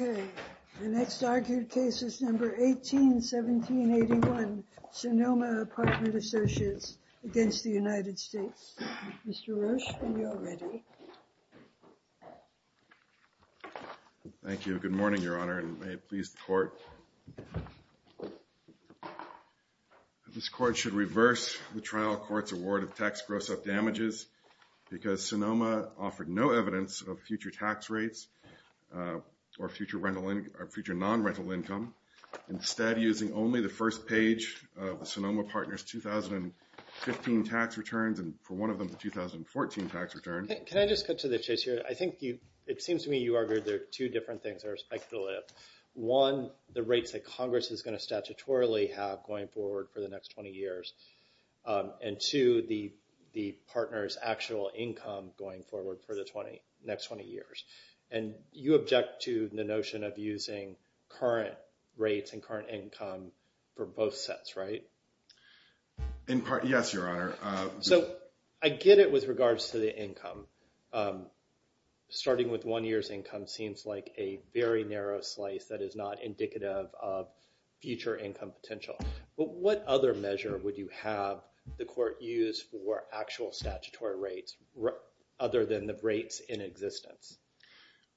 Okay, the next argued case is number 181781 Sonoma Apartment Associates against the United States Supreme Court. This court should reverse the trial court's award of tax gross up damages because Sonoma offered no evidence of future tax rates or future non-rental income. Instead, using only the first page of the Sonoma Partners 2015 tax returns and for one of them the 2014 tax return. Can I just cut to the chase here? I think it seems to me you argued there are two different things that are speculative. One, the rates that Congress is going to statutorily have going forward for the next 20 years. And two, the partners actual income going forward for the next 20 years. And you object to the notion of using current rates and current income for both sets, right? In part, yes, Your Honor. So I get it with regards to the income. Starting with one year's income seems like a very narrow slice that is not indicative of future income potential. But what other measure would you have the court use for actual statutory rates other than the rates in existence?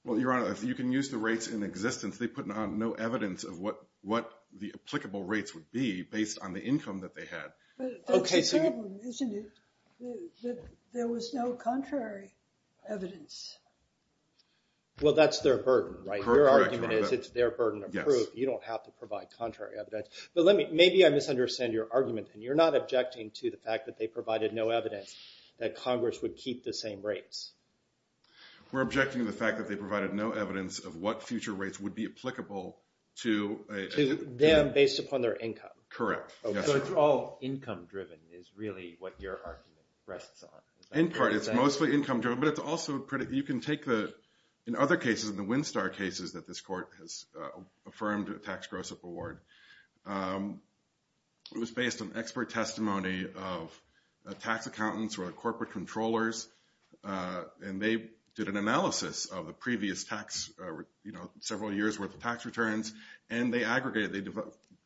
Well, Your Honor, if you can use the rates in existence, they put on no evidence of what the applicable rates would be based on the income that they had. But that's a problem, isn't it? That there was no contrary evidence. Well, that's their burden, right? Your argument is it's their burden of proof. You don't have to provide contrary evidence. But maybe I misunderstand your argument. And you're not objecting to the fact that they provided no evidence that Congress would keep the same rates. We're objecting to the fact that they provided no evidence of what future rates would be applicable to a… To them based upon their income. Correct. So it's all income driven is really what your argument rests on. In part, it's mostly income driven. But it's also… You can take the… In other cases, in the Windstar cases that this court has affirmed a tax gross up award, it was based on expert testimony of tax accountants or corporate controllers. And they did an analysis of the previous tax, several years' worth of tax returns. And they aggregated. They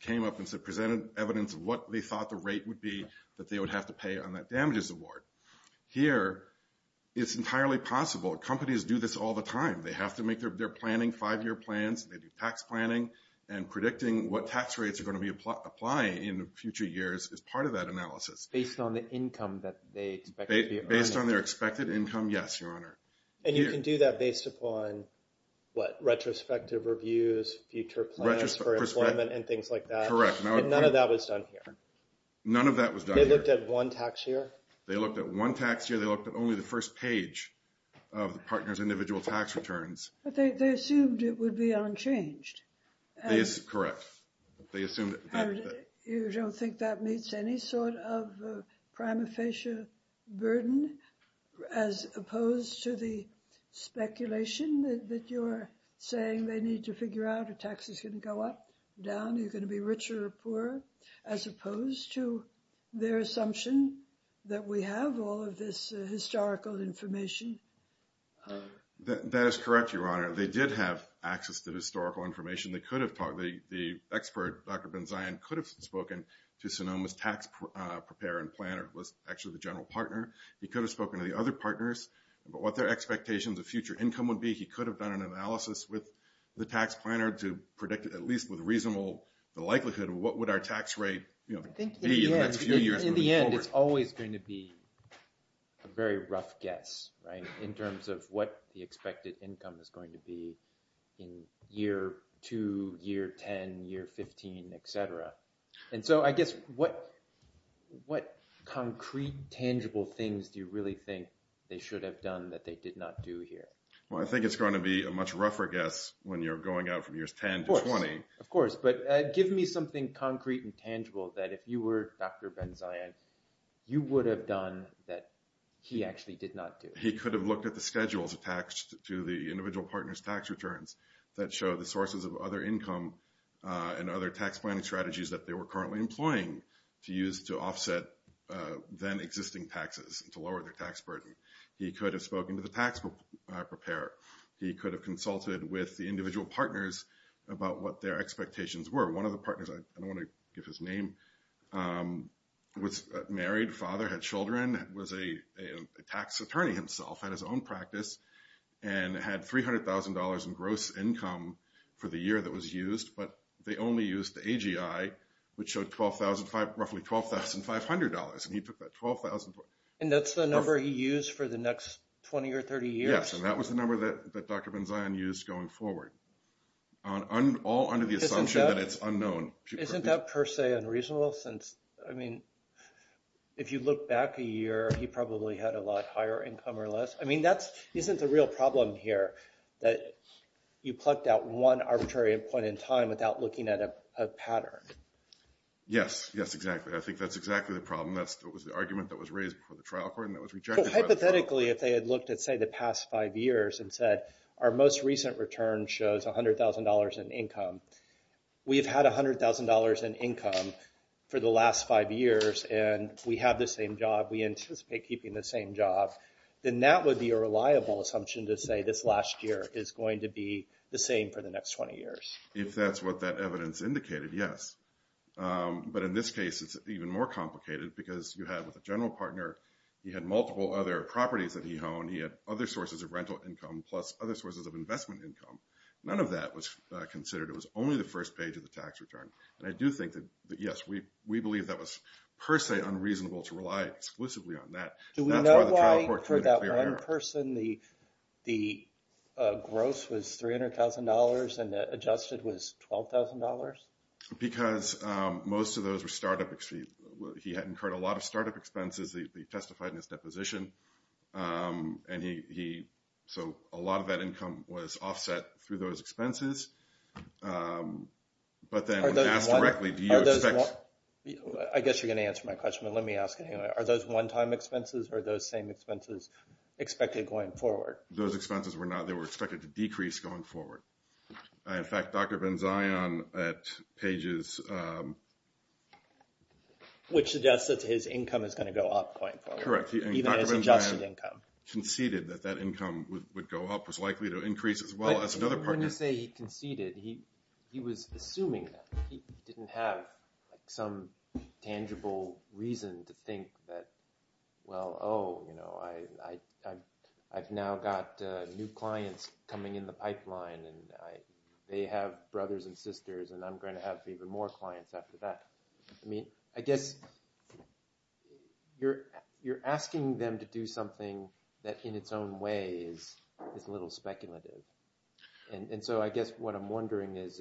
came up and presented evidence of what they thought the rate would be that they would have to pay on that damages award. Here, it's entirely possible. Companies do this all the time. They have to make their planning, five-year plans. They do tax planning. And predicting what tax rates are going to be applying in future years is part of that analysis. Based on the income that they expect to be earning. Based on their expected income, yes, Your Honor. And you can do that based upon, what, retrospective reviews, future plans for employment and things like that? Correct. And none of that was done here? None of that was done here. They looked at one tax year? They looked at one tax year. They looked at only the first page of the partner's individual tax returns. But they assumed it would be unchanged. That is correct. They assumed that... You don't think that meets any sort of prima facie burden, as opposed to the speculation that you're saying they need to figure out if tax is going to go up, down, you're going to be richer or poorer, as opposed to their assumption that we have all of this historical information? That is correct, Your Honor. They did have access to historical information. The expert, Dr. Benzion, could have spoken to Sonoma's tax preparer and planner, who was actually the general partner. He could have spoken to the other partners about what their expectations of future income would be. He could have done an analysis with the tax planner to predict, at least with reasonable likelihood, what would our tax rate be in the next few years moving forward. In the end, it's always going to be a very rough guess in terms of what the expected income is going to be in year 2, year 10, year 15, etc. I guess, what concrete, tangible things do you really think they should have done that they did not do here? I think it's going to be a much rougher guess when you're going out from years 10 to 20. Of course, but give me something concrete and tangible that if you were Dr. Benzion, you would have done that he actually did not do. He could have looked at the schedules attached to the individual partners' tax returns that show the sources of other income and other tax planning strategies that they were currently employing to use to offset then-existing taxes and to lower their tax burden. He could have spoken to the tax preparer. He could have consulted with the individual partners about what their expectations were. One of the partners, I don't want to give his name, was married, father, had children, was a tax attorney himself, had his own practice, and had $300,000 in gross income for the year that was used. But they only used the AGI, which showed roughly $12,500, and he took that $12,000. And that's the number he used for the next 20 or 30 years? Yes, and that was the number that Dr. Benzion used going forward, all under the assumption that it's unknown. Isn't that per se unreasonable since, I mean, if you look back a year, he probably had a lot higher income or less? I mean, isn't the real problem here that you plucked out one arbitrary point in time without looking at a pattern? Yes, yes, exactly. I think that's exactly the problem. That was the argument that was raised before the trial court and that was rejected by the trial court. But hypothetically, if they had looked at, say, the past five years and said, our most recent return shows $100,000 in income, we've had $100,000 in income for the last five years, and we have the same job, we anticipate keeping the same job, then that would be a reliable assumption to say this last year is going to be the same for the next 20 years. If that's what that evidence indicated, yes. But in this case, it's even more complicated because you had, with a general partner, he had multiple other properties that he owned. He had other sources of rental income plus other sources of investment income. None of that was considered. It was only the first page of the tax return. And I do think that, yes, we believe that was per se unreasonable to rely exclusively on that. Do we know why, for that one person, the gross was $300,000 and the adjusted was $12,000? Because most of those were startup expenses. He had incurred a lot of startup expenses. He testified in his deposition. So a lot of that income was offset through those expenses. I guess you're going to answer my question, but let me ask it anyway. Are those one-time expenses or are those same expenses expected going forward? Those expenses were not. They were expected to decrease going forward. In fact, Dr. Benzion, at pages... Which suggests that his income is going to go up going forward. Correct. And Dr. Benzion conceded that that income would go up, was likely to increase as well as another partner. Before you say he conceded, he was assuming that. He didn't have some tangible reason to think that, well, oh, I've now got new clients coming in the pipeline and they have brothers and sisters and I'm going to have even more clients after that. I mean, I guess you're asking them to do something that in its own way is a little speculative. And so I guess what I'm wondering is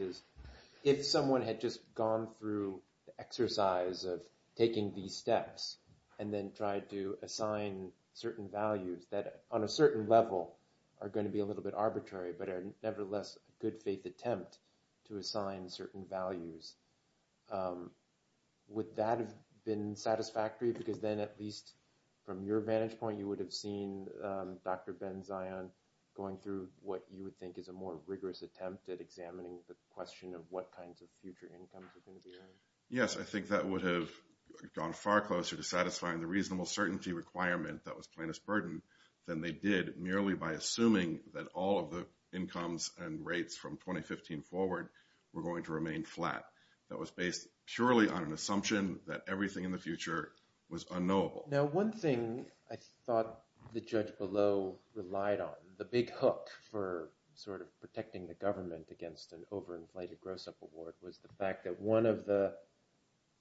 if someone had just gone through the exercise of taking these steps and then tried to assign certain values that on a certain level are going to be a little bit arbitrary, but are nevertheless a good faith attempt to assign certain values, would that have been satisfactory? Because then at least from your vantage point, you would have seen Dr. Benzion going through what you would think is a more rigorous attempt at examining the question of what kinds of future incomes are going to be earned. Yes, I think that would have gone far closer to satisfying the reasonable certainty requirement that was plaintiff's burden than they did merely by assuming that all of the incomes and rates from 2015 forward were going to remain flat. That was based purely on an assumption that everything in the future was unknowable. Now, one thing I thought the judge below relied on, the big hook for sort of protecting the government against an overinflated gross up award was the fact that one of the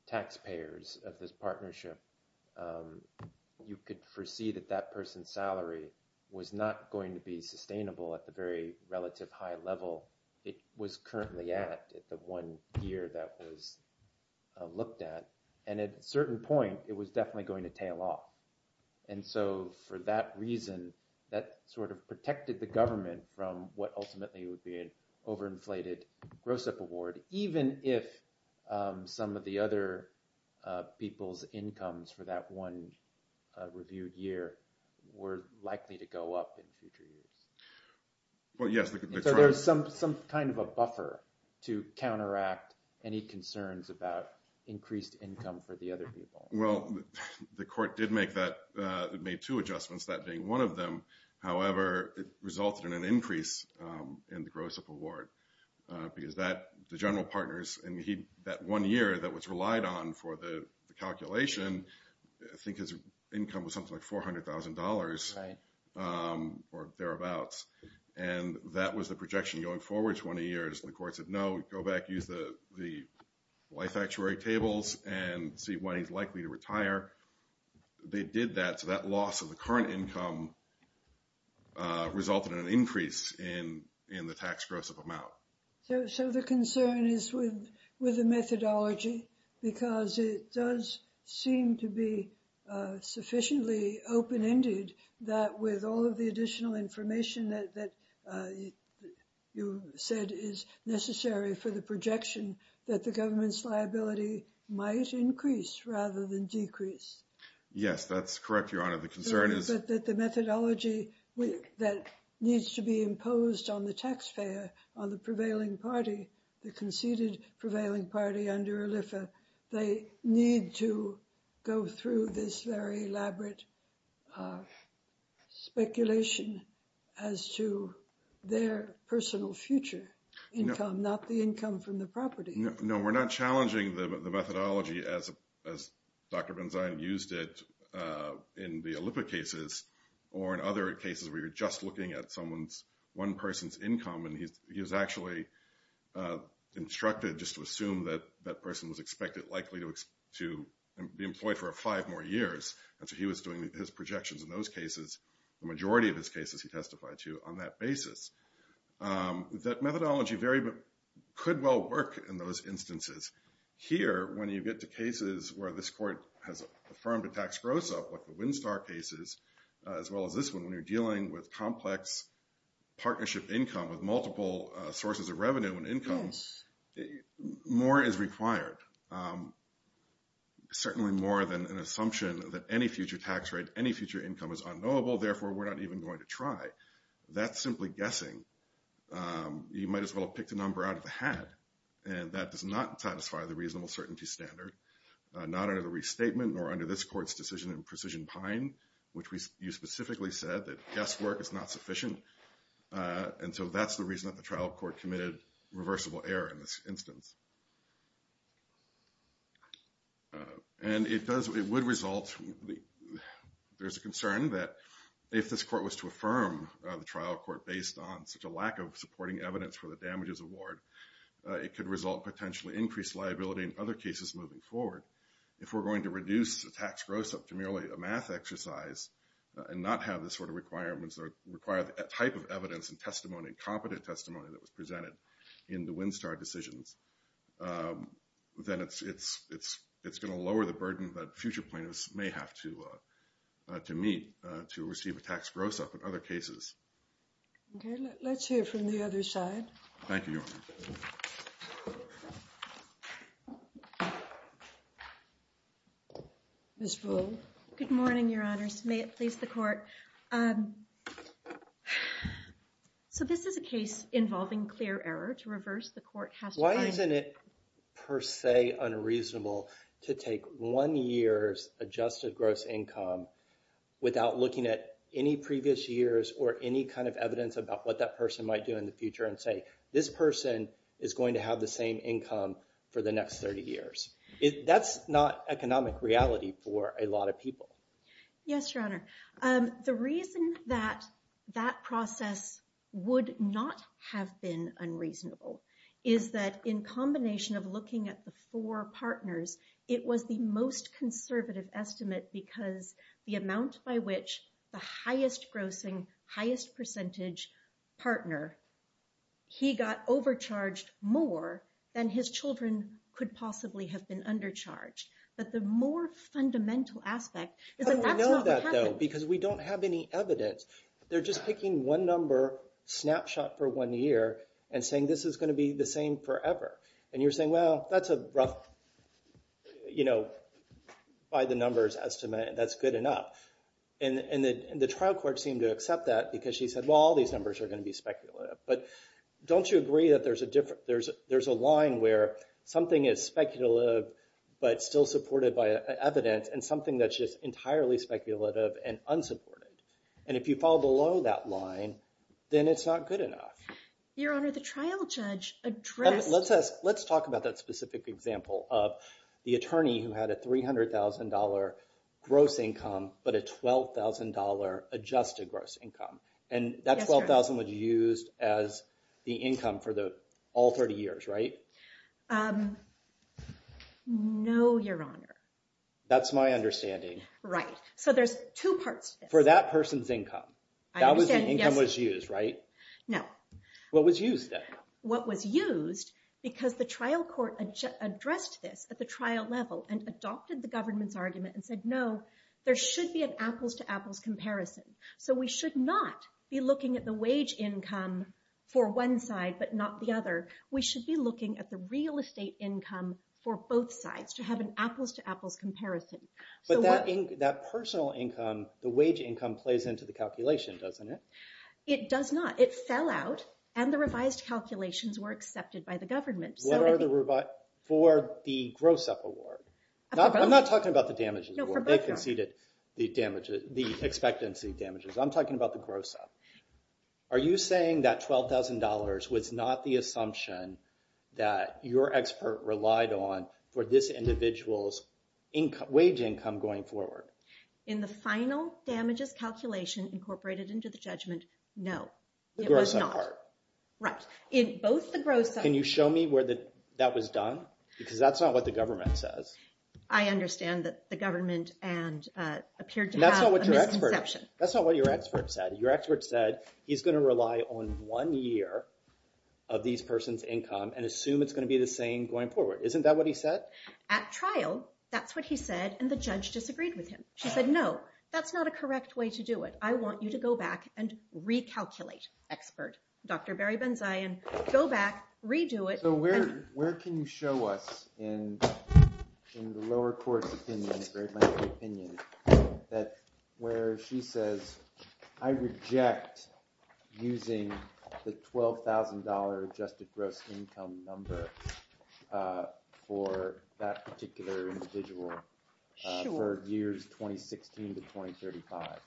taxpayers of this partnership, you could foresee that that person's salary was not going to be sustainable at the very relative high level it was currently at the one year that was looked at. And at a certain point, it was definitely going to tail off. And so for that reason, that sort of protected the government from what ultimately would be an overinflated gross up award, even if some of the other people's incomes for that one reviewed year were likely to go up in future years. So there's some kind of a buffer to counteract any concerns about increased income for the other people. Well, the court did make two adjustments, that being one of them. However, it resulted in an increase in the gross up award because the general partners, and that one year that was relied on for the calculation, I think his income was something like $400,000 or thereabouts. And that was the projection going forward 20 years. The court said, no, go back, use the life actuary tables and see when he's likely to retire. They did that, so that loss of the current income resulted in an increase in the tax gross up amount. So the concern is with the methodology because it does seem to be sufficiently open-ended that with all of the additional information that you said is necessary for the projection, that the government's liability might increase rather than decrease. Yes, that's correct, Your Honor. The concern is... That the methodology that needs to be imposed on the taxpayer, on the prevailing party, the conceded prevailing party under ALIFA, they need to go through this very elaborate speculation as to their personal future income, not the income from the property. No, we're not challenging the methodology as Dr. Benzion used it in the ALIFA cases or in other cases where you're just looking at one person's income, and he was actually instructed just to assume that that person was likely to be employed for five more years. And so he was doing his projections in those cases, the majority of his cases he testified to on that basis. That methodology could well work in those instances. Here, when you get to cases where this court has affirmed a tax gross up, like the Windstar cases, as well as this one, when you're dealing with complex partnership income with multiple sources of revenue and income, more is required, certainly more than an assumption that any future tax rate, any future income is unknowable, therefore we're not even going to try. That's simply guessing. You might as well have picked a number out of the hat, and that does not satisfy the reasonable certainty standard, not under the restatement nor under this court's decision in Precision Pine, which you specifically said that guesswork is not sufficient, and so that's the reason that the trial court committed reversible error in this instance. And it would result, there's a concern that if this court was to affirm the trial court based on such a lack of supporting evidence for the damages award, it could result in potentially increased liability in other cases moving forward. If we're going to reduce the tax gross up to merely a math exercise and not have the sort of requirements that require the type of evidence and testimony, and competent testimony that was presented in the Windstar decisions, then it's going to lower the burden that future plaintiffs may have to meet to receive a tax gross up in other cases. Okay, let's hear from the other side. Thank you, Your Honor. Ms. Ruhl. May it please the Court. Yes, Your Honor. So this is a case involving clear error to reverse the court has to find. Why isn't it per se unreasonable to take one year's adjusted gross income without looking at any previous years or any kind of evidence about what that person might do in the future and say this person is going to have the same income for the next 30 years? That's not economic reality for a lot of people. Yes, Your Honor. The reason that that process would not have been unreasonable is that in combination of looking at the four partners, it was the most conservative estimate because the amount by which the highest grossing, highest percentage partner, he got overcharged more than his children could possibly have been undercharged. But the more fundamental aspect is that that's not what happened. But we know that, though, because we don't have any evidence. They're just picking one number snapshot for one year and saying this is going to be the same forever. And you're saying, well, that's a rough, you know, by the numbers estimate. That's good enough. And the trial court seemed to accept that because she said, well, all these numbers are going to be speculative. But don't you agree that there's a line where something is speculative but still supported by evidence and something that's just entirely speculative and unsupported? And if you fall below that line, then it's not good enough. Your Honor, the trial judge addressed— Let's talk about that specific example of the attorney who had a $300,000 gross income but a $12,000 adjusted gross income. And that $12,000 was used as the income for all 30 years, right? No, Your Honor. That's my understanding. Right. So there's two parts to this. For that person's income. I understand, yes. That was the income that was used, right? No. What was used, then? What was used, because the trial court addressed this at the trial level and adopted the government's argument and said, no, there should be an apples-to-apples comparison. So we should not be looking at the wage income for one side but not the other. We should be looking at the real estate income for both sides, to have an apples-to-apples comparison. But that personal income, the wage income, plays into the calculation, doesn't it? It does not. It fell out, and the revised calculations were accepted by the government. What are the revised—for the gross up award? For both. No, for both, Your Honor. They conceded the expectancy damages. I'm talking about the gross up. Are you saying that $12,000 was not the assumption that your expert relied on for this individual's wage income going forward? In the final damages calculation incorporated into the judgment, no, it was not. The gross up part. Right. In both the gross up— Can you show me where that was done? Because that's not what the government says. I understand that the government appeared to have a misconception. That's not what your expert said. Your expert said he's going to rely on one year of this person's income and assume it's going to be the same going forward. Isn't that what he said? At trial, that's what he said, and the judge disagreed with him. She said, no, that's not a correct way to do it. I want you to go back and recalculate, expert. Dr. Barry Benzion, go back, redo it. So where can you show us, in the lower court's opinion, where she says, I reject using the $12,000 adjusted gross income number for that particular individual for years 2016 to 2035?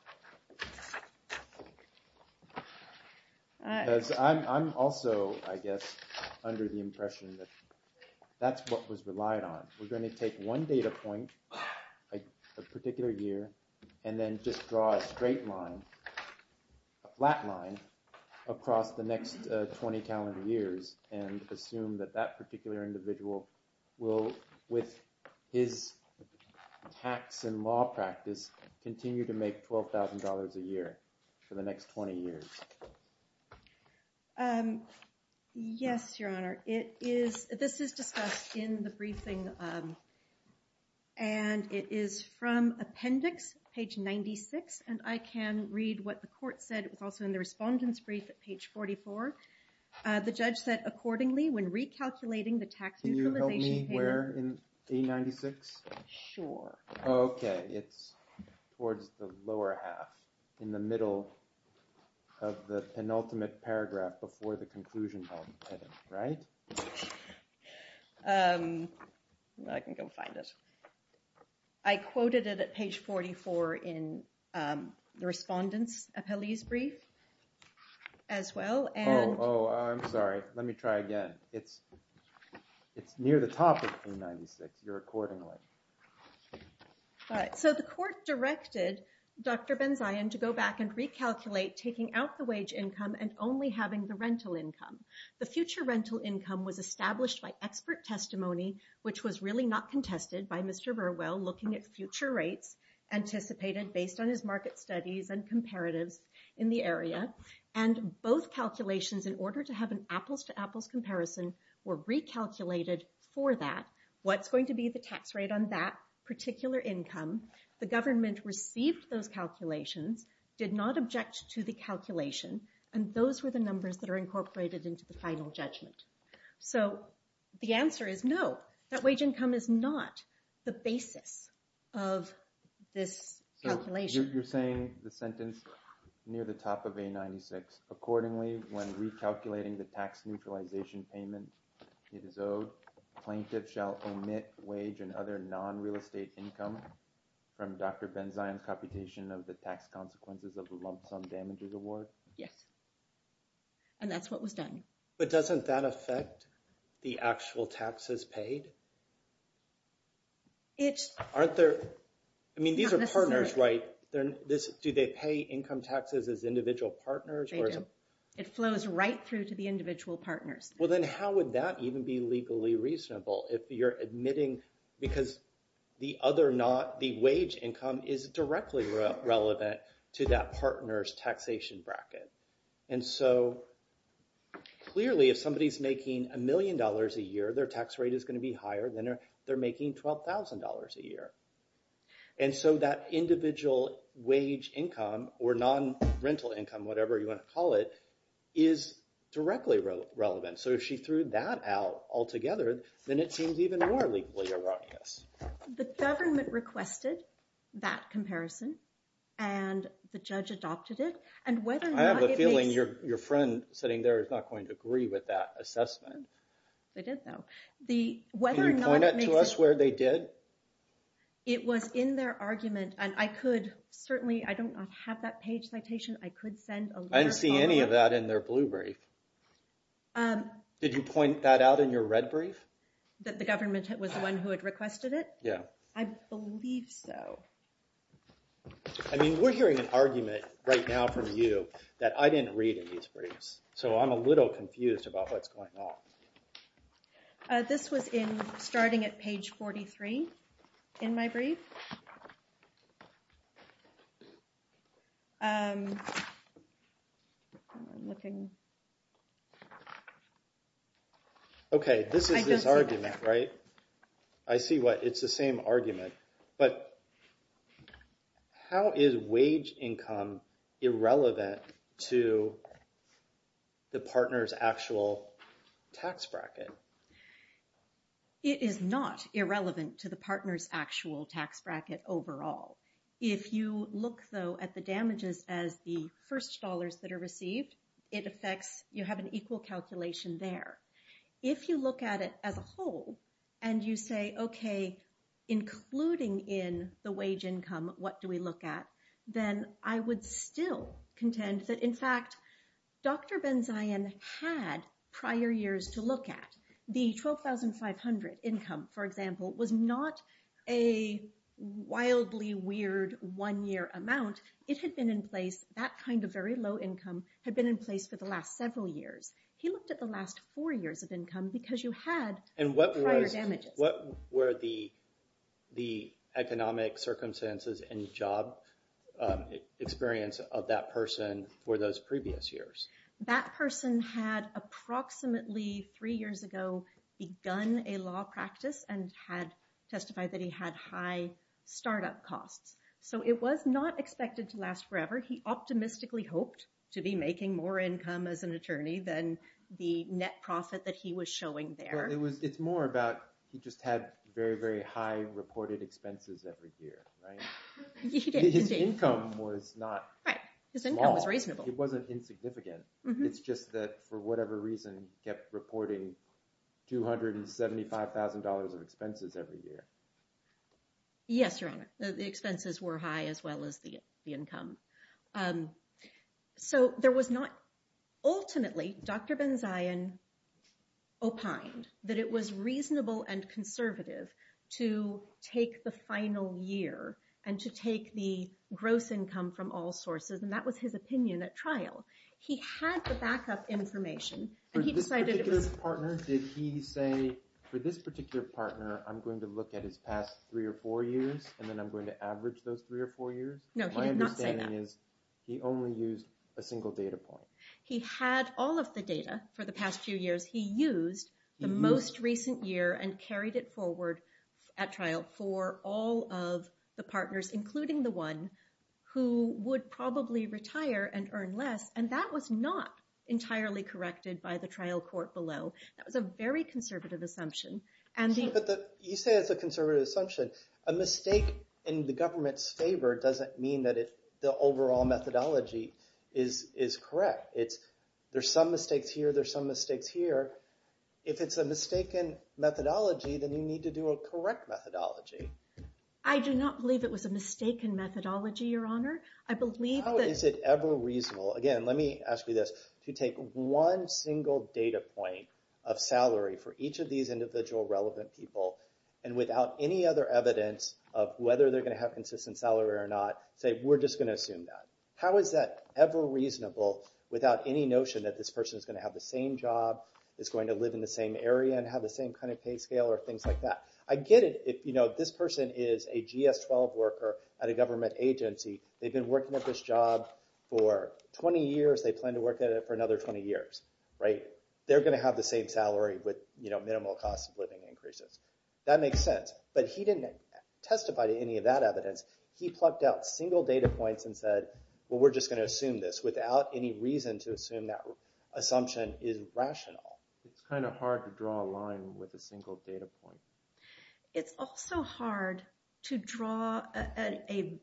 I'm also, I guess, under the impression that that's what was relied on. We're going to take one data point, a particular year, and then just draw a straight line, a flat line across the next 20 calendar years and assume that that particular individual will, with his tax and law practice, continue to make $12,000 a year for the next 20 years. Yes, Your Honor. This is discussed in the briefing, and it is from appendix, page 96, and I can read what the court said. It was also in the respondent's brief at page 44. The judge said, accordingly, when recalculating the tax neutralization payment... Can you help me where in page 96? Sure. Okay, it's towards the lower half, in the middle of the penultimate paragraph before the conclusion, right? I can go find it. I quoted it at page 44 in the respondent's appellee's brief as well, and... Oh, I'm sorry. Let me try again. It's near the top of page 96. You're accordingly. All right, so the court directed Dr. Benzion to go back and recalculate taking out the wage income and only having the rental income. The future rental income was established by expert testimony, which was really not contested by Mr. Burwell looking at future rates anticipated based on his market studies and comparatives in the area. And both calculations, in order to have an apples-to-apples comparison, were recalculated for that. What's going to be the tax rate on that particular income? The government received those calculations, did not object to the calculation, and those were the numbers that are incorporated into the final judgment. So the answer is no, that wage income is not the basis of this calculation. You're saying the sentence near the top of page 96. Accordingly, when recalculating the tax neutralization payment it is owed, plaintiffs shall omit wage and other non-real estate income from Dr. Benzion's computation of the tax consequences of the lump sum damages award? Yes. And that's what was done. But doesn't that affect the actual taxes paid? I mean, these are partners, right? Do they pay income taxes as individual partners? They do. It flows right through to the individual partners. Well, then how would that even be legally reasonable if you're admitting because the other not, the wage income is directly relevant to that partner's taxation bracket? And so clearly if somebody's making a million dollars a year, their tax rate is going to be higher than if they're making $12,000 a year. And so that individual wage income or non-rental income, whatever you want to call it, is directly relevant. So if she threw that out altogether, then it seems even more legally erroneous. The government requested that comparison and the judge adopted it. I have a feeling your friend sitting there is not going to agree with that assessment. They did though. Can you point that to us where they did? It was in their argument and I could certainly, I don't have that page citation, I could send a letter. I didn't see any of that in their blue brief. Did you point that out in your red brief? That the government was the one who had requested it? Yeah. I believe so. I mean, we're hearing an argument right now from you that I didn't read in these briefs. So I'm a little confused about what's going on. This was starting at page 43 in my brief. I'm looking. Okay, this is this argument, right? I see what it's the same argument. But how is wage income irrelevant to the partner's actual tax bracket? It is not irrelevant to the partner's actual tax bracket overall. If you look though at the damages as the first dollars that are received, it affects, you have an equal calculation there. If you look at it as a whole, and you say, okay, including in the wage income, what do we look at? Then I would still contend that in fact, Dr. Benzion had prior years to look at. The 12,500 income, for example, was not a wildly weird one year amount. It had been in place, that kind of very low income had been in place for the last several years. He looked at the last four years of income because you had prior damages. And what were the economic circumstances and job experience of that person for those previous years? That person had approximately three years ago begun a law practice and had testified that he had high startup costs. So it was not expected to last forever. He optimistically hoped to be making more income as an attorney than the net profit that he was showing there. It's more about he just had very, very high reported expenses every year. His income was not small. His income was reasonable. It wasn't insignificant. It's just that for whatever reason, he kept reporting $275,000 of expenses every year. Yes, Your Honor. The expenses were high as well as the income. So there was not—ultimately, Dr. Benzion opined that it was reasonable and conservative to take the final year and to take the gross income from all sources, and that was his opinion at trial. He had the backup information, and he decided it was— Did he say, for this particular partner, I'm going to look at his past three or four years, and then I'm going to average those three or four years? No, he did not say that. My understanding is he only used a single data point. He had all of the data for the past few years. He used the most recent year and carried it forward at trial for all of the partners, including the one who would probably retire and earn less, and that was not entirely corrected by the trial court below. That was a very conservative assumption. But you say it's a conservative assumption. A mistake in the government's favor doesn't mean that the overall methodology is correct. There's some mistakes here. There's some mistakes here. If it's a mistaken methodology, then you need to do a correct methodology. I do not believe it was a mistaken methodology, Your Honor. I believe that— How is it ever reasonable—again, let me ask you this. To take one single data point of salary for each of these individual relevant people and without any other evidence of whether they're going to have consistent salary or not, say, we're just going to assume that. How is that ever reasonable without any notion that this person is going to have the same job, is going to live in the same area, and have the same kind of pay scale or things like that? I get it if this person is a GS-12 worker at a government agency. They've been working at this job for 20 years. They plan to work at it for another 20 years. They're going to have the same salary with minimal cost of living increases. That makes sense. But he didn't testify to any of that evidence. He plucked out single data points and said, well, we're just going to assume this without any reason to assume that assumption is rational. It's kind of hard to draw a line with a single data point. It's also hard to draw an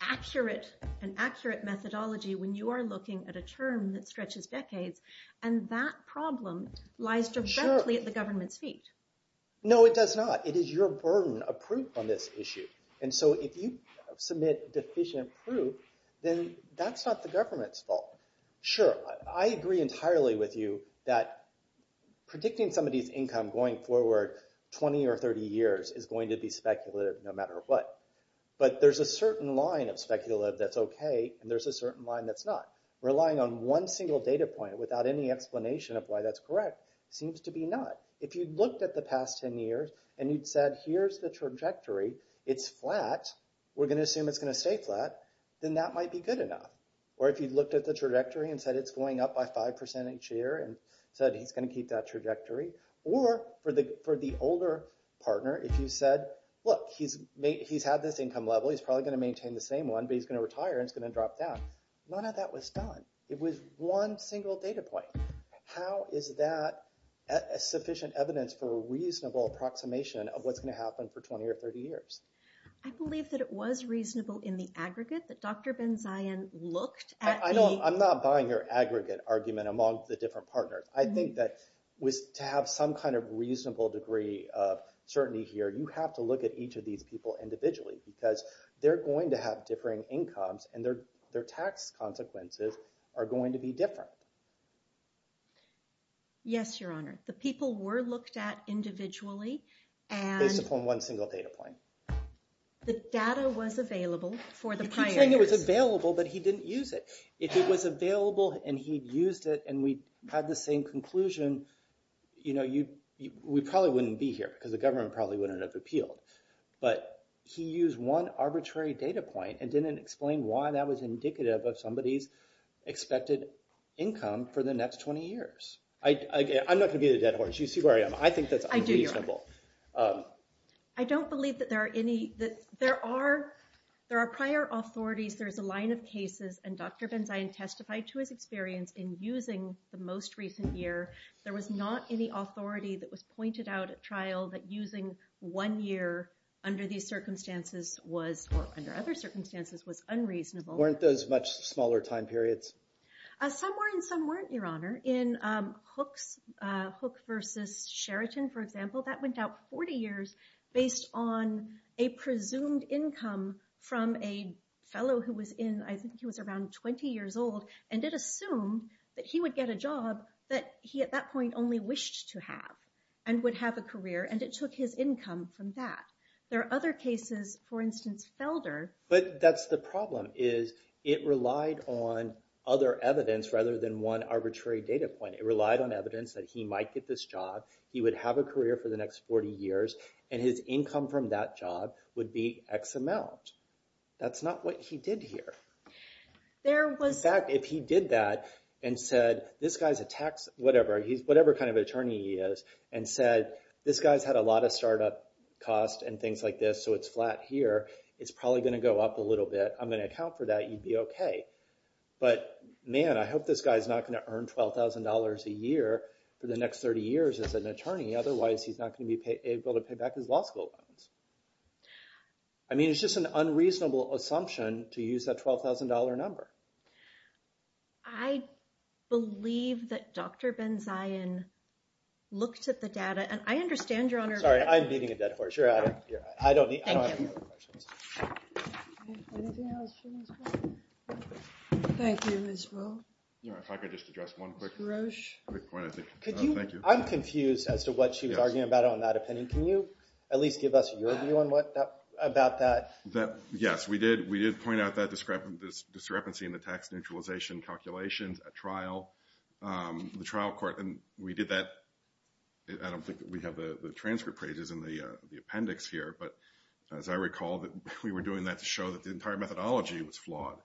accurate methodology when you are looking at a term that stretches decades. And that problem lies directly at the government's feet. No, it does not. It is your burden of proof on this issue. And so if you submit deficient proof, then that's not the government's fault. Sure. I agree entirely with you that predicting somebody's income going forward 20 or 30 years is going to be speculative no matter what. But there's a certain line of speculative that's OK, and there's a certain line that's not. Relying on one single data point without any explanation of why that's correct seems to be not. If you looked at the past 10 years and you'd said, here's the trajectory. It's flat. We're going to assume it's going to stay flat. Then that might be good enough. Or if you looked at the trajectory and said it's going up by 5% each year and said he's going to keep that trajectory. Or for the older partner, if you said, look, he's had this income level. He's probably going to maintain the same one, but he's going to retire and it's going to drop down. None of that was done. It was one single data point. How is that sufficient evidence for a reasonable approximation of what's going to happen for 20 or 30 years? I believe that it was reasonable in the aggregate that Dr. Ben-Zion looked at the- I'm not buying your aggregate argument among the different partners. I think that to have some kind of reasonable degree of certainty here, you have to look at each of these people individually. Because they're going to have differing incomes, and their tax consequences are going to be different. Yes, Your Honor. The people were looked at individually. Based upon one single data point. The data was available for the prior years. You keep saying it was available, but he didn't use it. If it was available and he used it and we had the same conclusion, we probably wouldn't be here. Because the government probably wouldn't have appealed. But he used one arbitrary data point and didn't explain why that was indicative of somebody's expected income for the next 20 years. I'm not going to be the dead horse. You see where I am. I think that's unreasonable. I don't believe that there are any- There are prior authorities. There's a line of cases. And Dr. Ben-Zion testified to his experience in using the most recent year. There was not any authority that was pointed out at trial that using one year under these circumstances was, or under other circumstances, was unreasonable. Weren't those much smaller time periods? Some were and some weren't, Your Honor. In Hook versus Sheraton, for example, that went out 40 years based on a presumed income from a fellow who was in, I think he was around 20 years old. And it assumed that he would get a job that he, at that point, only wished to have and would have a career. And it took his income from that. There are other cases, for instance, Felder. But that's the problem is it relied on other evidence rather than one arbitrary data point. It relied on evidence that he might get this job. He would have a career for the next 40 years. And his income from that job would be X amount. That's not what he did here. In fact, if he did that and said, this guy's a tax, whatever, whatever kind of attorney he is, and said, this guy's had a lot of startup costs and things like this, so it's flat here. It's probably going to go up a little bit. I'm going to account for that. You'd be OK. But man, I hope this guy's not going to earn $12,000 a year for the next 30 years as an attorney. Otherwise, he's not going to be able to pay back his law school loans. I mean, it's just an unreasonable assumption to use that $12,000 number. I believe that Dr. Benzion looked at the data. And I understand, Your Honor. Sorry. I'm beating a dead horse. You're out of here. I don't have any other questions. Thank you. Anything else for Ms. Will? Thank you, Ms. Will. If I could just address one quick point. Mr. Roche? Thank you. I'm confused as to what she was arguing about on that opinion. Can you at least give us your view about that? Yes, we did. We did point out that discrepancy in the tax neutralization calculations at trial. The trial court, and we did that. I don't think that we have the transcript pages in the appendix here. But as I recall, we were doing that to show that the entire methodology was flawed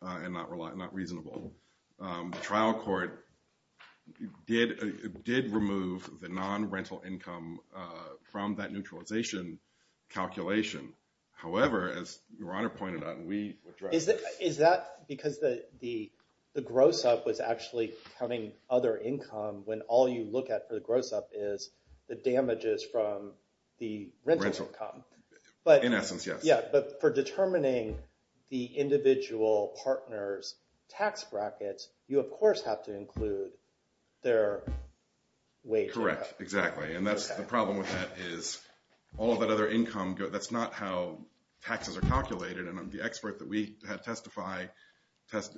and not reasonable. The trial court did remove the non-rental income from that neutralization calculation. However, as Your Honor pointed out, and we addressed this. Is that because the gross up was actually counting other income when all you look at for the gross up is the damages from the rental income? In essence, yes. But for determining the individual partner's tax brackets, you, of course, have to include their wage income. Correct. Exactly. And the problem with that is all of that other income, that's not how taxes are calculated. And the expert that we had testify, his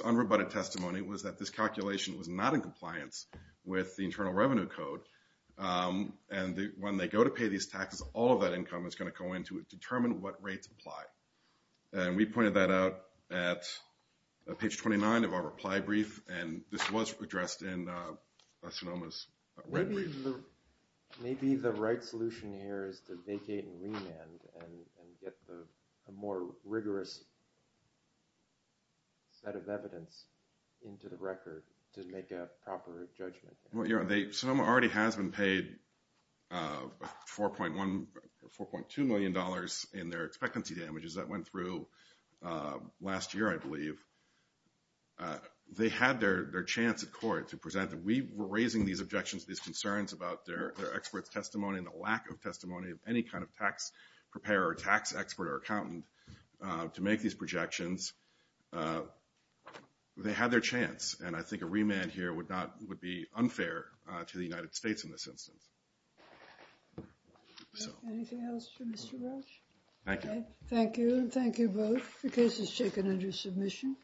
unrebutted testimony was that this calculation was not in compliance with the Internal Revenue Code. And when they go to pay these taxes, all of that income is going to go in to determine what rates apply. And we pointed that out at page 29 of our reply brief, and this was addressed in Sonoma's red brief. Maybe the right solution here is to vacate and remand and get a more rigorous set of evidence into the record to make a proper judgment. Sonoma already has been paid $4.2 million in their expectancy damages. That went through last year, I believe. They had their chance at court to present. We were raising these objections, these concerns about their expert's testimony and the lack of testimony of any kind of tax preparer or tax expert or accountant to make these projections. They had their chance, and I think a remand here would be unfair to the United States in this instance. Anything else for Mr. Welch? Thank you. Thank you both. The case is taken under submission.